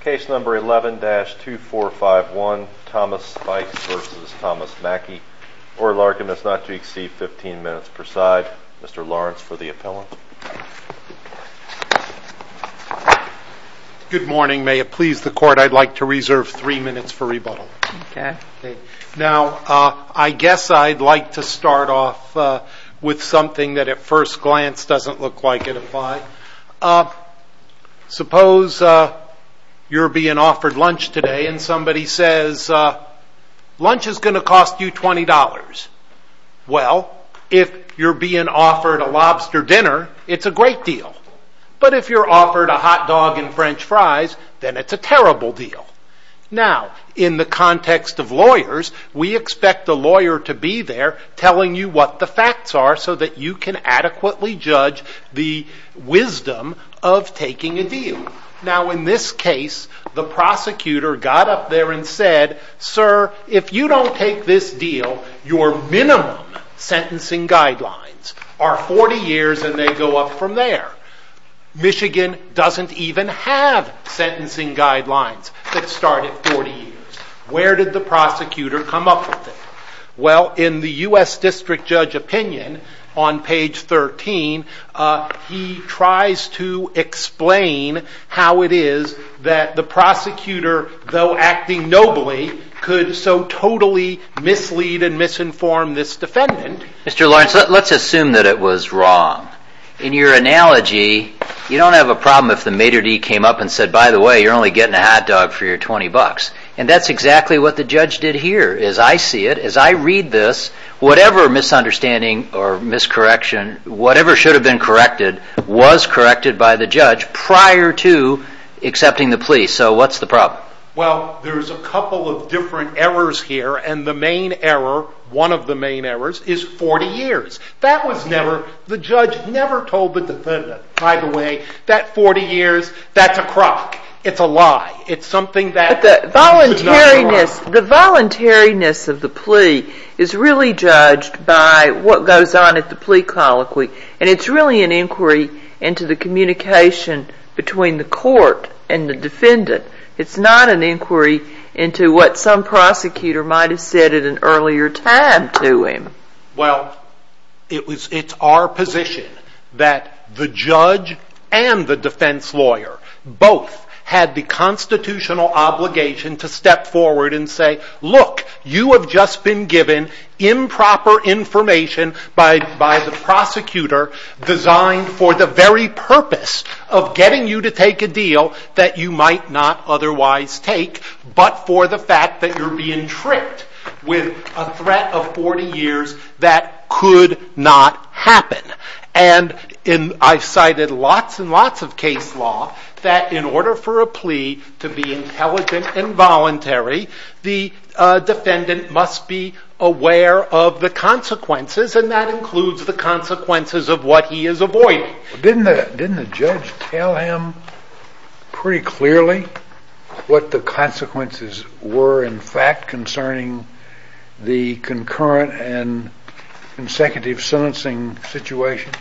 Case number 11-2451 Thomas Spikes v. Thomas Mackie. Oral argument is not to exceed 15 minutes per side. Mr. Lawrence for the appellant. Good morning. May it please the court I'd like to reserve 3 minutes for rebuttal. Okay. Now, I guess I'd like to start off with something that at first glance doesn't look like it applied. Now, suppose you're being offered lunch today and somebody says lunch is going to cost you $20. Well, if you're being offered a lobster dinner, it's a great deal. But if you're offered a hot dog and french fries, then it's a terrible deal. Now, in the context of lawyers, we expect the lawyer to be there telling you what the facts are so that you can adequately judge the wisdom of taking a deal. Now, in this case, the prosecutor got up there and said, Sir, if you don't take this deal, your minimum sentencing guidelines are 40 years and they go up from there. Michigan doesn't even have sentencing guidelines that start at 40 years. Where did the prosecutor come up with it? Well, in the U.S. District Judge opinion on page 13, he tries to explain how it is that the prosecutor, though acting nobly, could so totally mislead and misinform this defendant. Mr. Lawrence, let's assume that it was wrong. In your analogy, you don't have a problem if the maitre d' came up and said, By the way, you're only getting a hot dog for your $20. And that's exactly what the judge did here. As I see it, as I read this, whatever misunderstanding or miscorrection, whatever should have been corrected, was corrected by the judge prior to accepting the plea. So what's the problem? Well, there's a couple of different errors here. And the main error, one of the main errors, is 40 years. The judge never told the defendant, by the way, that 40 years, that's a crock. It's a lie. But the voluntariness of the plea is really judged by what goes on at the plea colloquy. And it's really an inquiry into the communication between the court and the defendant. It's not an inquiry into what some prosecutor might have said at an earlier time to him. Well, it's our position that the judge and the defense lawyer both had the constitutional obligation to step forward and say, look, you have just been given improper information by the prosecutor designed for the very purpose of getting you to take a deal that you might not otherwise take, but for the fact that you're being tricked with a threat of 40 years that could not happen. And I've cited lots and lots of case law that in order for a plea to be intelligent and voluntary, the defendant must be aware of the consequences, and that includes the consequences of what he is avoiding. Didn't the judge tell him pretty clearly what the consequences were, in fact, concerning the concurrent and consecutive sentencing situation?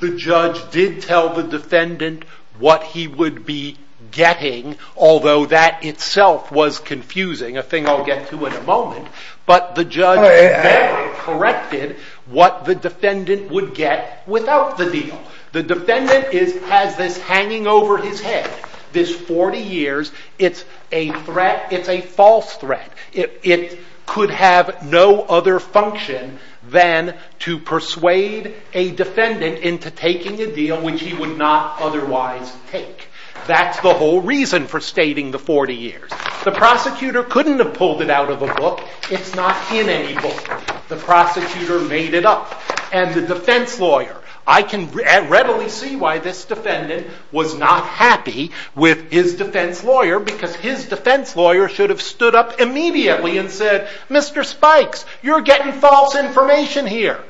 The judge did tell the defendant what he would be getting, although that itself was confusing, a thing I'll get to in a moment. But the judge then corrected what the defendant would get without the deal. The defendant has this hanging over his head, this 40 years. It's a threat. It's a false threat. It could have no other function than to persuade a defendant into taking a deal which he would not otherwise take. That's the whole reason for stating the 40 years. The prosecutor couldn't have pulled it out of a book. It's not in any book. The prosecutor made it up. And the defense lawyer. I can readily see why this defendant was not happy with his defense lawyer, because his defense lawyer should have stood up immediately and said, Mr. Spikes, you're getting false information here.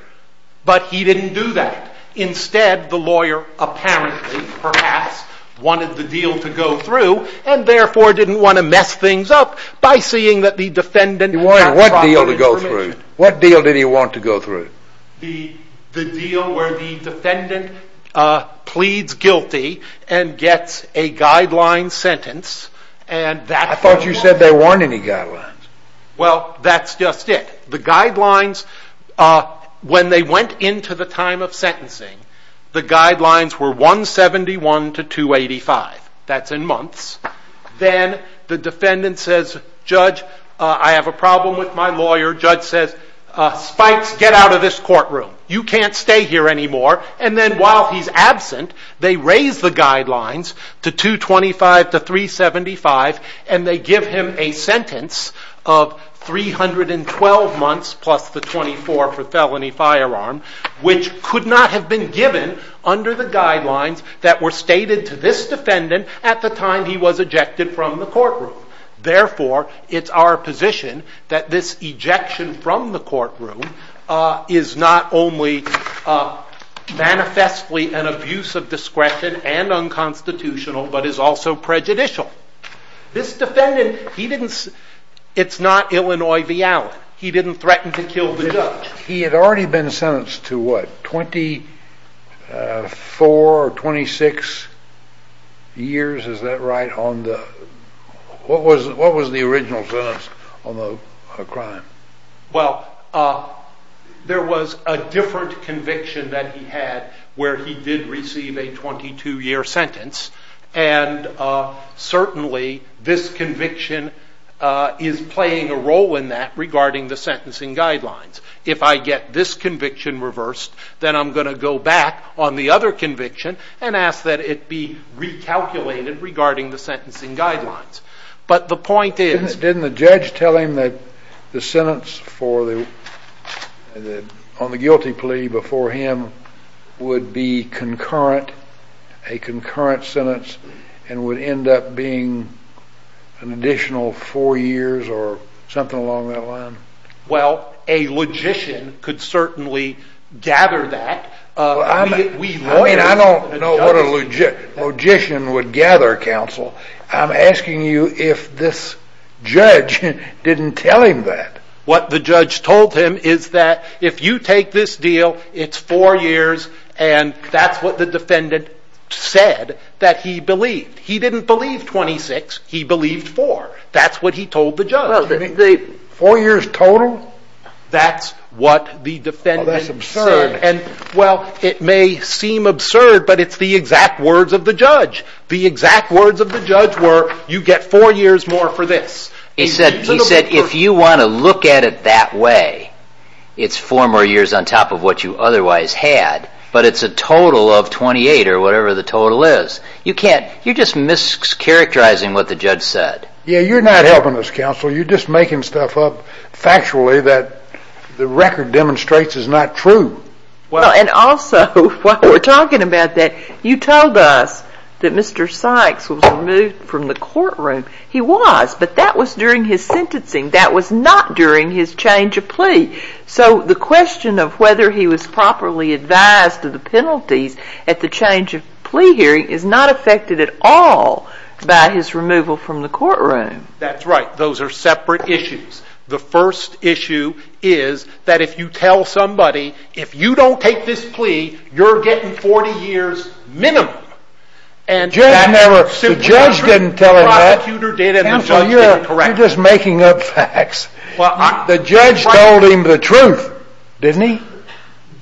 But he didn't do that. Instead, the lawyer apparently, perhaps, wanted the deal to go through and therefore didn't want to mess things up by seeing that the defendant had proper information. He wanted what deal to go through? What deal did he want to go through? The deal where the defendant pleads guilty and gets a guideline sentence. I thought you said they weren't any guidelines. Well, that's just it. When they went into the time of sentencing, the guidelines were 171 to 285. That's in months. Then the defendant says, Judge, I have a problem with my lawyer. Judge says, Spikes, get out of this courtroom. You can't stay here anymore. And then while he's absent, they raise the guidelines to 225 to 375, and they give him a sentence of 312 months plus the 24 for felony firearm, which could not have been given under the guidelines that were stated to this defendant at the time he was ejected from the courtroom. Therefore, it's our position that this ejection from the courtroom is not only manifestly an abuse of discretion and unconstitutional, but is also prejudicial. This defendant, it's not Illinois v. Allen. He didn't threaten to kill the judge. He had already been sentenced to what, 24 or 26 years, is that right? What was the original sentence on the crime? Well, there was a different conviction that he had where he did receive a 22-year sentence, and certainly this conviction is playing a role in that regarding the sentencing guidelines. If I get this conviction reversed, then I'm going to go back on the other conviction and ask that it be recalculated regarding the sentencing guidelines. Didn't the judge tell him that the sentence on the guilty plea before him would be a concurrent sentence and would end up being an additional four years or something along that line? Well, a logician could certainly gather that. I don't know what a logician would gather, counsel. I'm asking you if this judge didn't tell him that. What the judge told him is that if you take this deal, it's four years, and that's what the defendant said that he believed. He didn't believe 26. He believed four. That's what he told the judge. That's what the defendant said. Well, that's absurd. Well, it may seem absurd, but it's the exact words of the judge. The exact words of the judge were, you get four years more for this. He said, if you want to look at it that way, it's four more years on top of what you otherwise had, but it's a total of 28 or whatever the total is. You're just mischaracterizing what the judge said. Yeah, you're not helping us, counsel. You're just making stuff up factually that the record demonstrates is not true. And also, while we're talking about that, you told us that Mr. Sykes was removed from the courtroom. He was, but that was during his sentencing. That was not during his change of plea. So the question of whether he was properly advised of the penalties at the change of plea hearing is not affected at all by his removal from the courtroom. That's right. Those are separate issues. The first issue is that if you tell somebody, if you don't take this plea, you're getting 40 years minimum. And that's simply not true. The judge didn't tell him that. Counsel, you're just making up facts. The judge told him the truth, didn't he?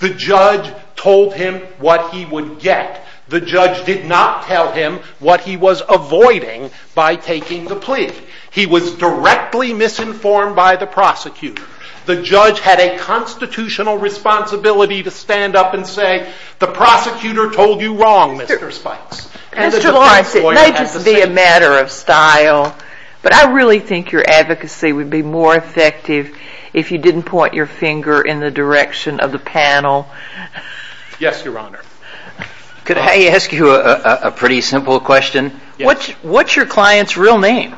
The judge told him what he would get. The judge did not tell him what he was avoiding by taking the plea. He was directly misinformed by the prosecutor. The judge had a constitutional responsibility to stand up and say, the prosecutor told you wrong, Mr. Sykes. Mr. Lawrence, it may just be a matter of style, but I really think your advocacy would be more effective if you didn't point your finger in the direction of the panel. Yes, Your Honor. Could I ask you a pretty simple question? Yes. What's your client's real name?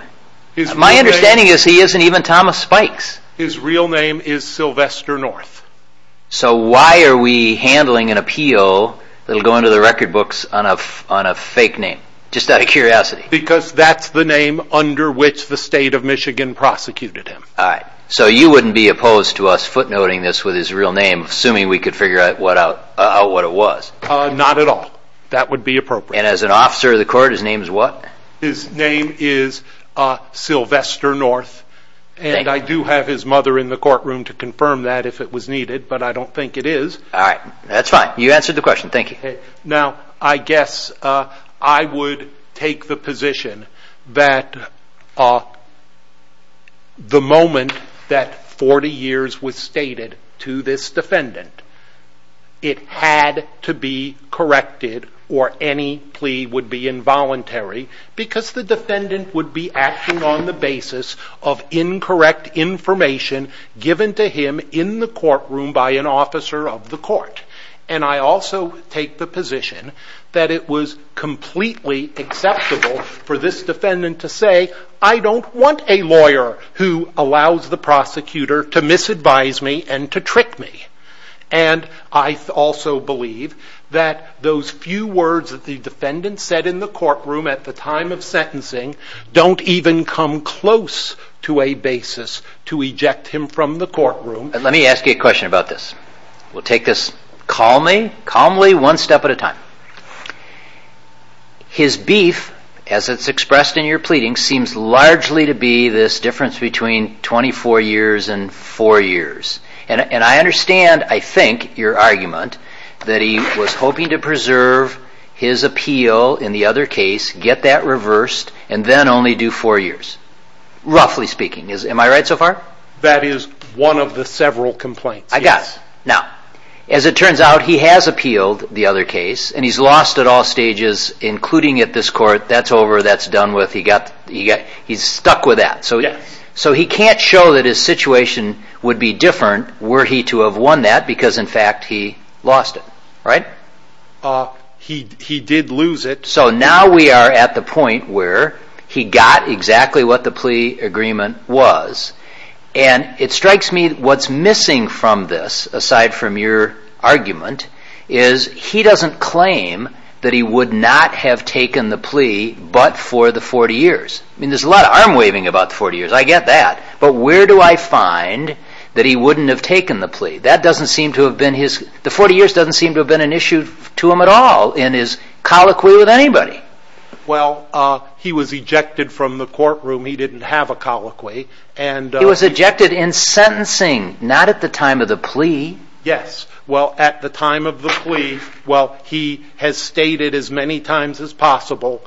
My understanding is he isn't even Thomas Sykes. His real name is Sylvester North. So why are we handling an appeal that will go into the record books on a fake name? Just out of curiosity. Because that's the name under which the state of Michigan prosecuted him. So you wouldn't be opposed to us footnoting this with his real name, assuming we could figure out what it was? Not at all. That would be appropriate. And as an officer of the court, his name is what? His name is Sylvester North. And I do have his mother in the courtroom to confirm that if it was needed, but I don't think it is. All right. That's fine. You answered the question. Thank you. Now, I guess I would take the position that the moment that 40 years was stated to this defendant, it had to be corrected or any plea would be involuntary because the defendant would be acting on the basis of incorrect information given to him in the courtroom by an officer of the court. And I also take the position that it was completely acceptable for this defendant to say, I don't want a lawyer who allows the prosecutor to misadvise me and to trick me. And I also believe that those few words that the defendant said in the courtroom at the time of sentencing don't even come close to a basis to eject him from the courtroom. Let me ask you a question about this. We'll take this calmly, one step at a time. His beef, as it's expressed in your pleading, seems largely to be this difference between 24 years and four years. And I understand, I think, your argument that he was hoping to preserve his appeal in the other case, get that reversed, and then only do four years. Roughly speaking. Am I right so far? That is one of the several complaints. I got it. Now, as it turns out, he has appealed the other case and he's lost at all stages, including at this court. That's over. That's done with. He's stuck with that. So he can't show that his situation would be different were he to have won that because, in fact, he lost it. Right? He did lose it. So now we are at the point where he got exactly what the plea agreement was. And it strikes me what's missing from this, aside from your argument, is he doesn't claim that he would not have taken the plea but for the 40 years. I mean, there's a lot of arm-waving about the 40 years. I get that. But where do I find that he wouldn't have taken the plea? The 40 years doesn't seem to have been an issue to him at all in his colloquy with anybody. Well, he was ejected from the courtroom. He didn't have a colloquy. He was ejected in sentencing, not at the time of the plea. Yes. Well, at the time of the plea, well, he has stated as many times as possible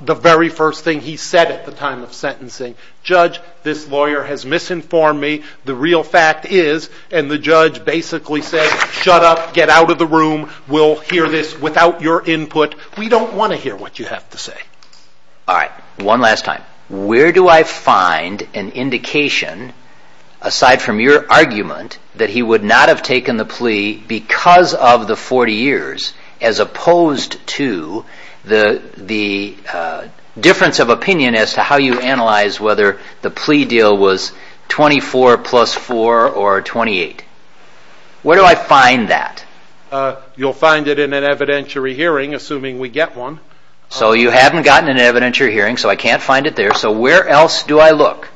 the very first thing he said at the time of sentencing, Judge, this lawyer has misinformed me. The real fact is, and the judge basically said, Shut up. Get out of the room. We'll hear this without your input. We don't want to hear what you have to say. All right. One last time. Where do I find an indication, aside from your argument, that he would not have taken the plea because of the 40 years as opposed to the difference of opinion as to how you analyze whether the plea deal was 24 plus 4 or 28? Where do I find that? You'll find it in an evidentiary hearing, assuming we get one. So you haven't gotten an evidentiary hearing, so I can't find it there. So where else do I look?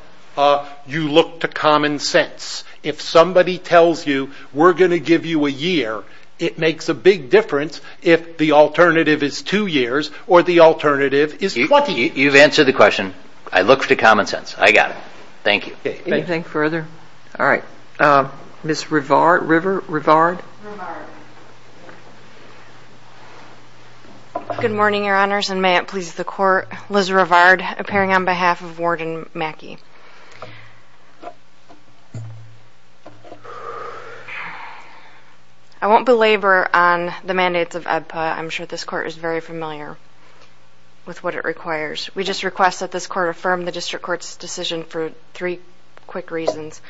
You look to common sense. If somebody tells you, we're going to give you a year, it makes a big difference if the alternative is two years or the alternative is 20 years. You've answered the question. I look to common sense. I got it. Thank you. Anything further? All right. Miss Rivard? River? Rivard? Rivard. Good morning, Your Honors, and may it please the Court. Liz Rivard, appearing on behalf of Warden Mackey. I won't belabor on the mandates of EBPA. I'm sure this Court is very familiar with what it requires. We just request that this Court affirm the District Court's decision for three quick reasons.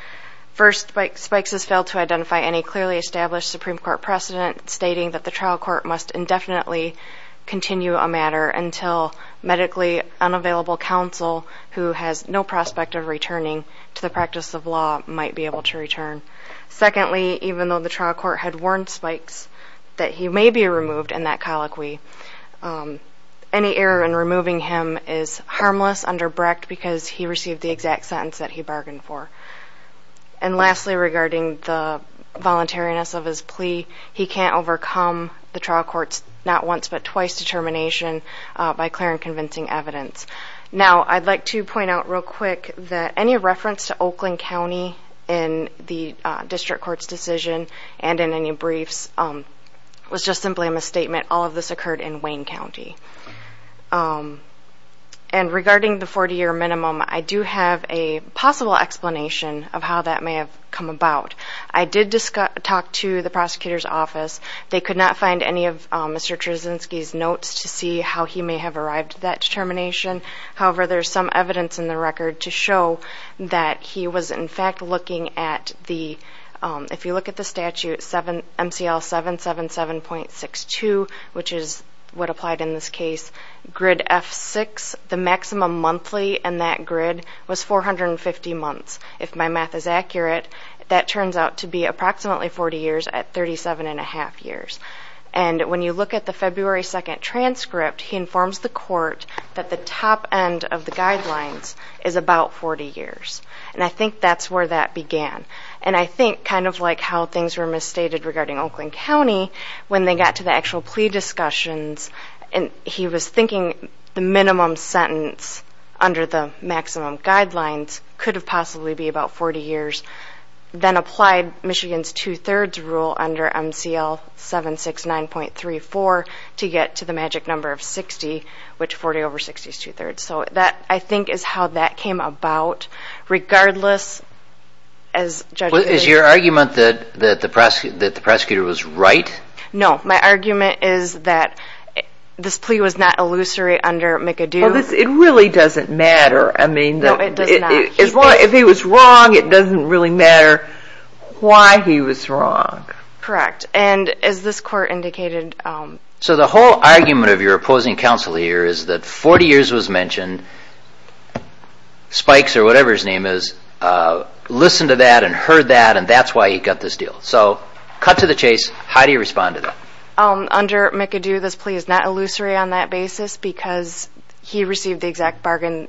First, Spikes has failed to identify any clearly established Supreme Court precedent, stating that the trial court must indefinitely continue a matter until medically unavailable counsel who has no prospect of returning to the practice of law might be able to return. Secondly, even though the trial court had warned Spikes that he may be removed in that colloquy, any error in removing him is harmless under Brecht because he received the exact sentence that he bargained for. And lastly, regarding the voluntariness of his plea, he can't overcome the trial court's not-once-but-twice determination by clear and convincing evidence. Now, I'd like to point out real quick that any reference to Oakland County in the District Court's decision and in any briefs was just simply a misstatement. All of this occurred in Wayne County. And regarding the 40-year minimum, I do have a possible explanation of how that may have come about. I did talk to the prosecutor's office. They could not find any of Mr. Cherzynski's notes to see how he may have arrived at that determination. However, there's some evidence in the record to show that he was in fact looking at the, if you look at the statute, MCL 777.62, which is what applied in this case, grid F6, the maximum monthly in that grid was 450 months. If my math is accurate, that turns out to be approximately 40 years at 37 1⁄2 years. And when you look at the February 2 transcript, he informs the court that the top end of the guidelines is about 40 years. And I think that's where that began. And I think kind of like how things were misstated regarding Oakland County, when they got to the actual plea discussions and he was thinking the minimum sentence under the maximum guidelines could have possibly be about 40 years, then applied Michigan's two-thirds rule under MCL 769.34 to get to the magic number of 60, which 40 over 60 is two-thirds. So that, I think, is how that came about. Regardless, as judges... Is your argument that the prosecutor was right? No, my argument is that this plea was not illusory under McAdoo. It really doesn't matter. No, it does not. If he was wrong, it doesn't really matter why he was wrong. Correct. And as this court indicated... So the whole argument of your opposing counsel here is that 40 years was mentioned, spikes or whatever his name is, listened to that and heard that, and that's why he got this deal. So cut to the chase. How do you respond to that? Under McAdoo, this plea is not illusory on that basis because he received the exact bargain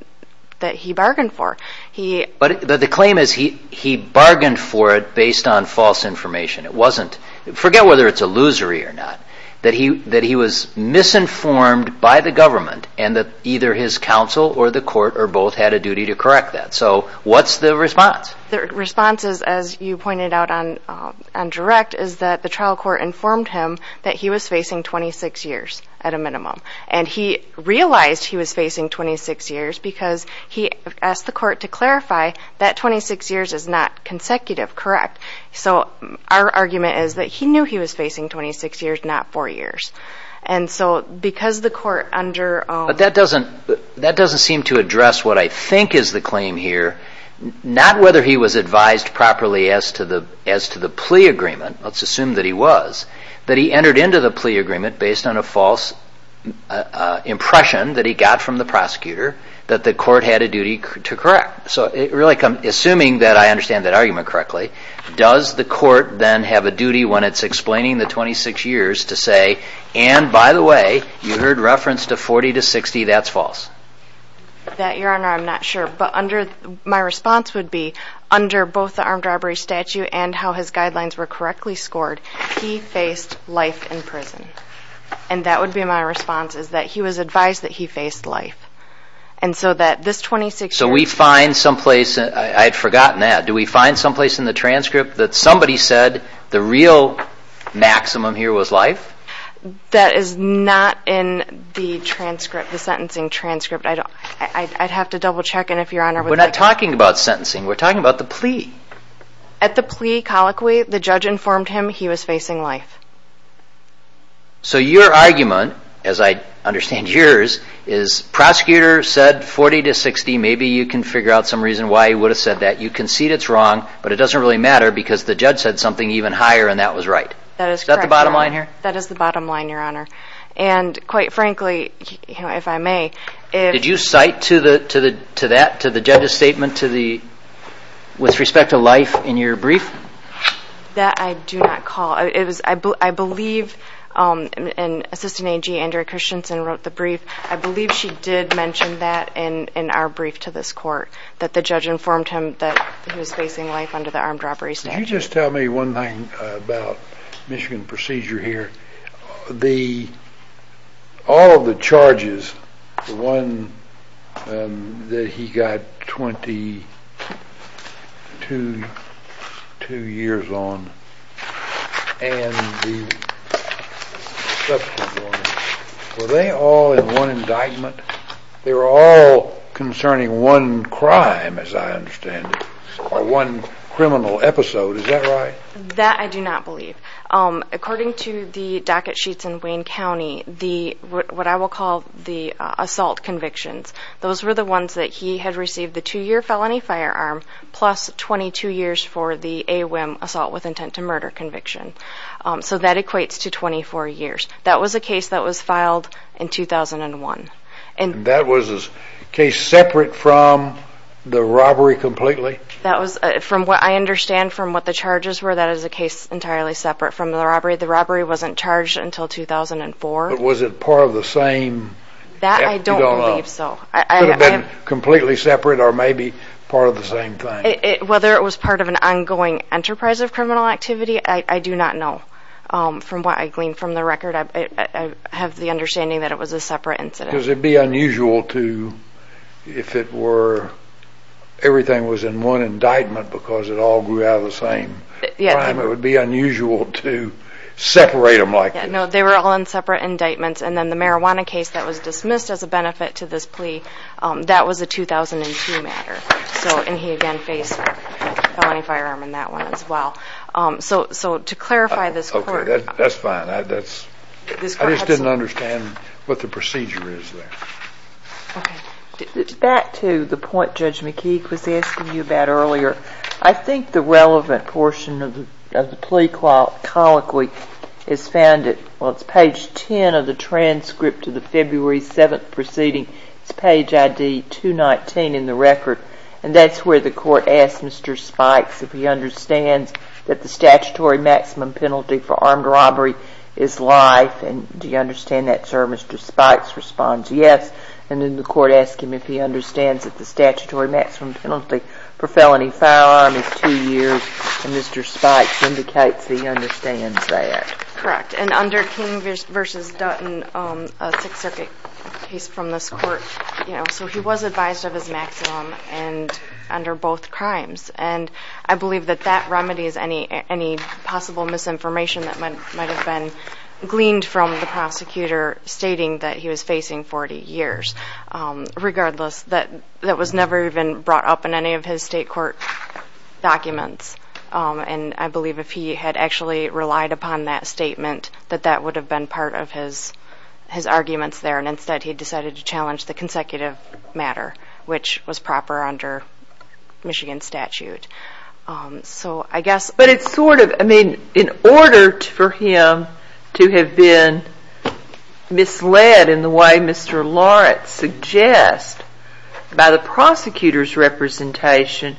that he bargained for. But the claim is he bargained for it based on false information. It wasn't... Forget whether it's illusory or not, that he was misinformed by the government and that either his counsel or the court or both had a duty to correct that. So what's the response? The response is, as you pointed out on direct, is that the trial court informed him that he was facing 26 years at a minimum. And he realized he was facing 26 years because he asked the court to clarify that 26 years is not consecutive, correct. So our argument is that he knew he was facing 26 years, not 4 years. And so because the court under... But that doesn't seem to address what I think is the claim here, not whether he was advised properly as to the plea agreement, let's assume that he was, that he entered into the plea agreement based on a false impression that he got from the prosecutor that the court had a duty to correct. Assuming that I understand that argument correctly, does the court then have a duty when it's explaining the 26 years to say, and by the way, you heard reference to 40 to 60, that's false? That, Your Honor, I'm not sure. But my response would be, under both the armed robbery statute and how his guidelines were correctly scored, he faced life in prison. And that would be my response, is that he was advised that he faced life. And so that this 26 years... So we find someplace, I had forgotten that, do we find someplace in the transcript that somebody said the real maximum here was life? That is not in the transcript, the sentencing transcript. I'd have to double check and if Your Honor would like... We're not talking about sentencing, we're talking about the plea. At the plea colloquy, the judge informed him he was facing life. So your argument, as I understand yours, is prosecutor said 40 to 60, maybe you can figure out some reason why he would have said that. You concede it's wrong, but it doesn't really matter because the judge said something even higher and that was right. Is that the bottom line here? That is the bottom line, Your Honor. And quite frankly, if I may... Did you cite to that, to the judge's statement with respect to life in your brief? That I do not call. I believe, and Assistant AG Andrea Christensen wrote the brief, I believe she did mention that in our brief to this court, that the judge informed him that he was facing life under the armed robbery statute. Can you just tell me one thing about Michigan procedure here? All of the charges, the one that he got 22 years on and the subsequent ones, were they all in one indictment? They were all concerning one crime, as I understand it, or one criminal episode. Is that right? That I do not believe. According to the docket sheets in Wayne County, what I will call the assault convictions, those were the ones that he had received the two-year felony firearm plus 22 years for the AWIM, assault with intent to murder conviction. So that equates to 24 years. That was a case that was filed in 2001. And that was a case separate from the robbery completely? That was, from what I understand from what the charges were, that is a case entirely separate from the robbery. The robbery wasn't charged until 2004. But was it part of the same? That I don't believe so. Could have been completely separate or maybe part of the same thing. Whether it was part of an ongoing enterprise of criminal activity, I do not know. From what I gleaned from the record, I have the understanding that it was a separate incident. Because it would be unusual to, if it were everything was in one indictment because it all grew out of the same crime, it would be unusual to separate them like this. No, they were all in separate indictments. And then the marijuana case that was dismissed as a benefit to this plea, that was a 2002 matter. And he again faced felony firearm in that one as well. So to clarify this court. That's fine. I just didn't understand what the procedure is there. Back to the point Judge McKeague was asking you about earlier. I think the relevant portion of the plea colloquy is found at page 10 of the transcript of the February 7th proceeding. It's page ID 219 in the record. And that's where the court asks Mr. Spikes if he understands that the statutory maximum penalty for armed robbery is life. And do you understand that sir? Mr. Spikes responds yes. And then the court asks him if he understands that the statutory maximum penalty for felony firearm is two years. And Mr. Spikes indicates that he understands that. Correct. And under King v. Dutton, a Sixth Circuit case from this court, so he was advised of his maximum under both crimes. And I believe that that remedies any possible misinformation that might have been gleaned from the prosecutor stating that he was facing 40 years. Regardless, that was never even brought up in any of his state court documents. And I believe if he had actually relied upon that statement, that that would have been part of his arguments there. And instead he decided to challenge the consecutive matter, which was proper under Michigan statute. So I guess. But it's sort of, I mean, in order for him to have been misled in the way Mr. Lawrence suggests by the prosecutor's representation,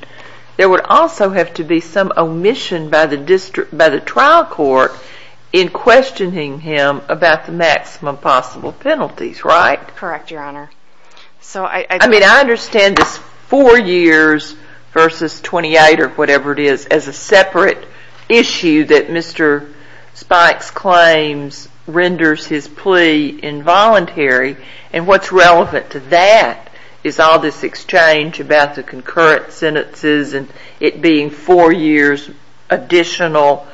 there would also have to be some omission by the trial court in questioning him about the maximum possible penalties, right? Correct, Your Honor. I mean, I understand this four years v. 28, or whatever it is, as a separate issue that Mr. Spikes claims renders his plea involuntary. And what's relevant to that is all this exchange about the concurrent sentences and it being four years additional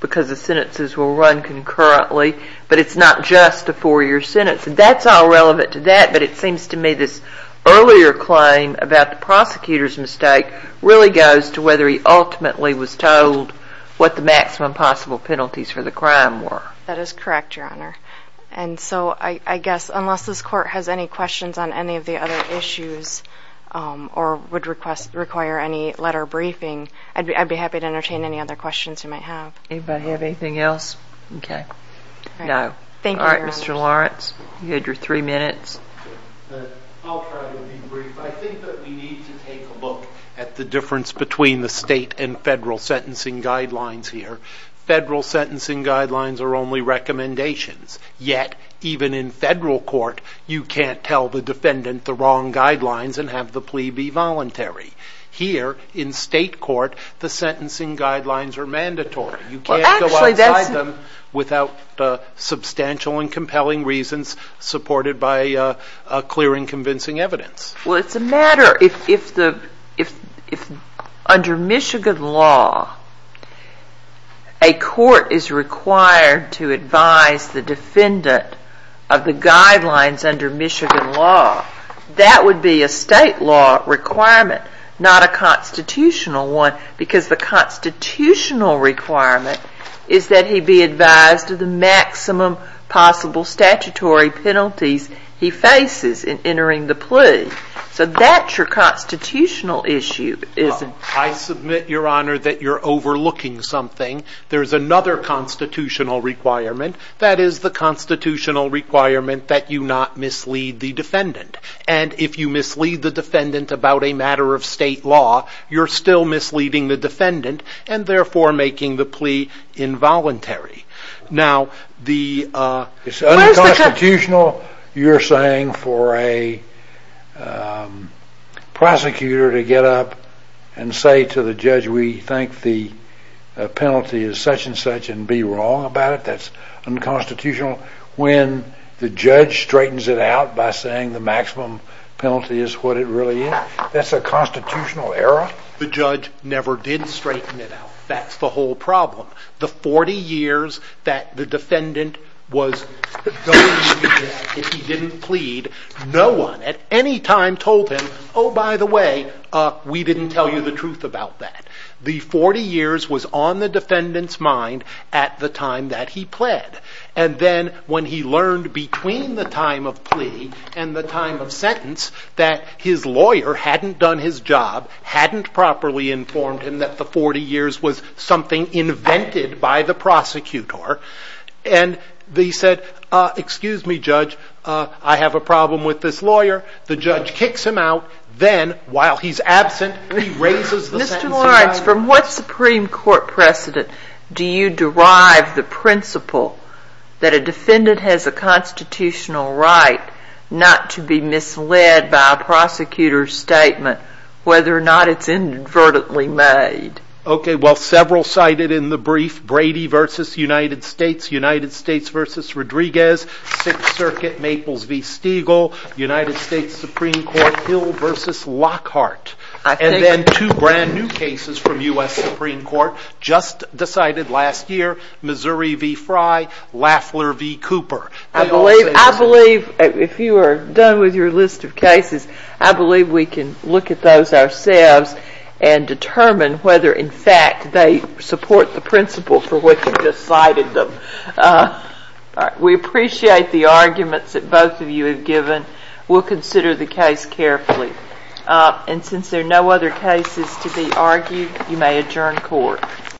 because the sentences will run concurrently. But it's not just a four-year sentence. That's all relevant to that, but it seems to me this earlier claim about the prosecutor's mistake really goes to whether he ultimately was told what the maximum possible penalties for the crime were. That is correct, Your Honor. And so I guess unless this court has any questions on any of the other issues or would require any letter briefing, I'd be happy to entertain any other questions you might have. Anybody have anything else? No. Thank you, Your Honor. All right, Mr. Lawrence, you had your three minutes. I'll try to be brief. I think that we need to take a look at the difference between the state and federal sentencing guidelines here. Federal sentencing guidelines are only recommendations, yet even in federal court you can't tell the defendant the wrong guidelines and have the plea be voluntary. Here in state court, the sentencing guidelines are mandatory. You can't go outside them without substantial and compelling reasons supported by clear and convincing evidence. Well, it's a matter if under Michigan law a court is required to advise the defendant of the guidelines under Michigan law, that would be a state law requirement, not a constitutional one, because the constitutional requirement is that he be advised of the maximum possible statutory penalties he faces in entering the plea. So that's your constitutional issue, isn't it? I submit, Your Honor, that you're overlooking something. There's another constitutional requirement. That is the constitutional requirement that you not mislead the defendant. And if you mislead the defendant about a matter of state law, you're still misleading the defendant and therefore making the plea involuntary. It's unconstitutional, you're saying, for a prosecutor to get up and say to the judge, we think the penalty is such and such and be wrong about it. That's unconstitutional. When the judge straightens it out by saying the maximum penalty is what it really is, that's a constitutional error? The judge never did straighten it out. That's the whole problem. The 40 years that the defendant was going to be dead if he didn't plead, no one at any time told him, oh, by the way, we didn't tell you the truth about that. The 40 years was on the defendant's mind at the time that he pled. And then when he learned between the time of plea and the time of sentence that his lawyer hadn't done his job, hadn't properly informed him that the 40 years was something invented by the prosecutor, and he said, excuse me, judge, I have a problem with this lawyer. The judge kicks him out. Then, while he's absent, he raises the sentence again. From what Supreme Court precedent do you derive the principle that a defendant has a constitutional right not to be misled by a prosecutor's statement, whether or not it's inadvertently made? Several cited in the brief, Brady v. United States, United States v. Rodriguez, Sixth Circuit, Maples v. Stiegel, United States Supreme Court, Hill v. Lockhart. And then two brand new cases from U.S. Supreme Court, just decided last year, Missouri v. Frye, Lafler v. Cooper. I believe, if you are done with your list of cases, I believe we can look at those ourselves and determine whether, in fact, they support the principle for which you just cited them. We appreciate the arguments that both of you have given. We'll consider the case carefully. And since there are no other cases to be argued, you may adjourn court.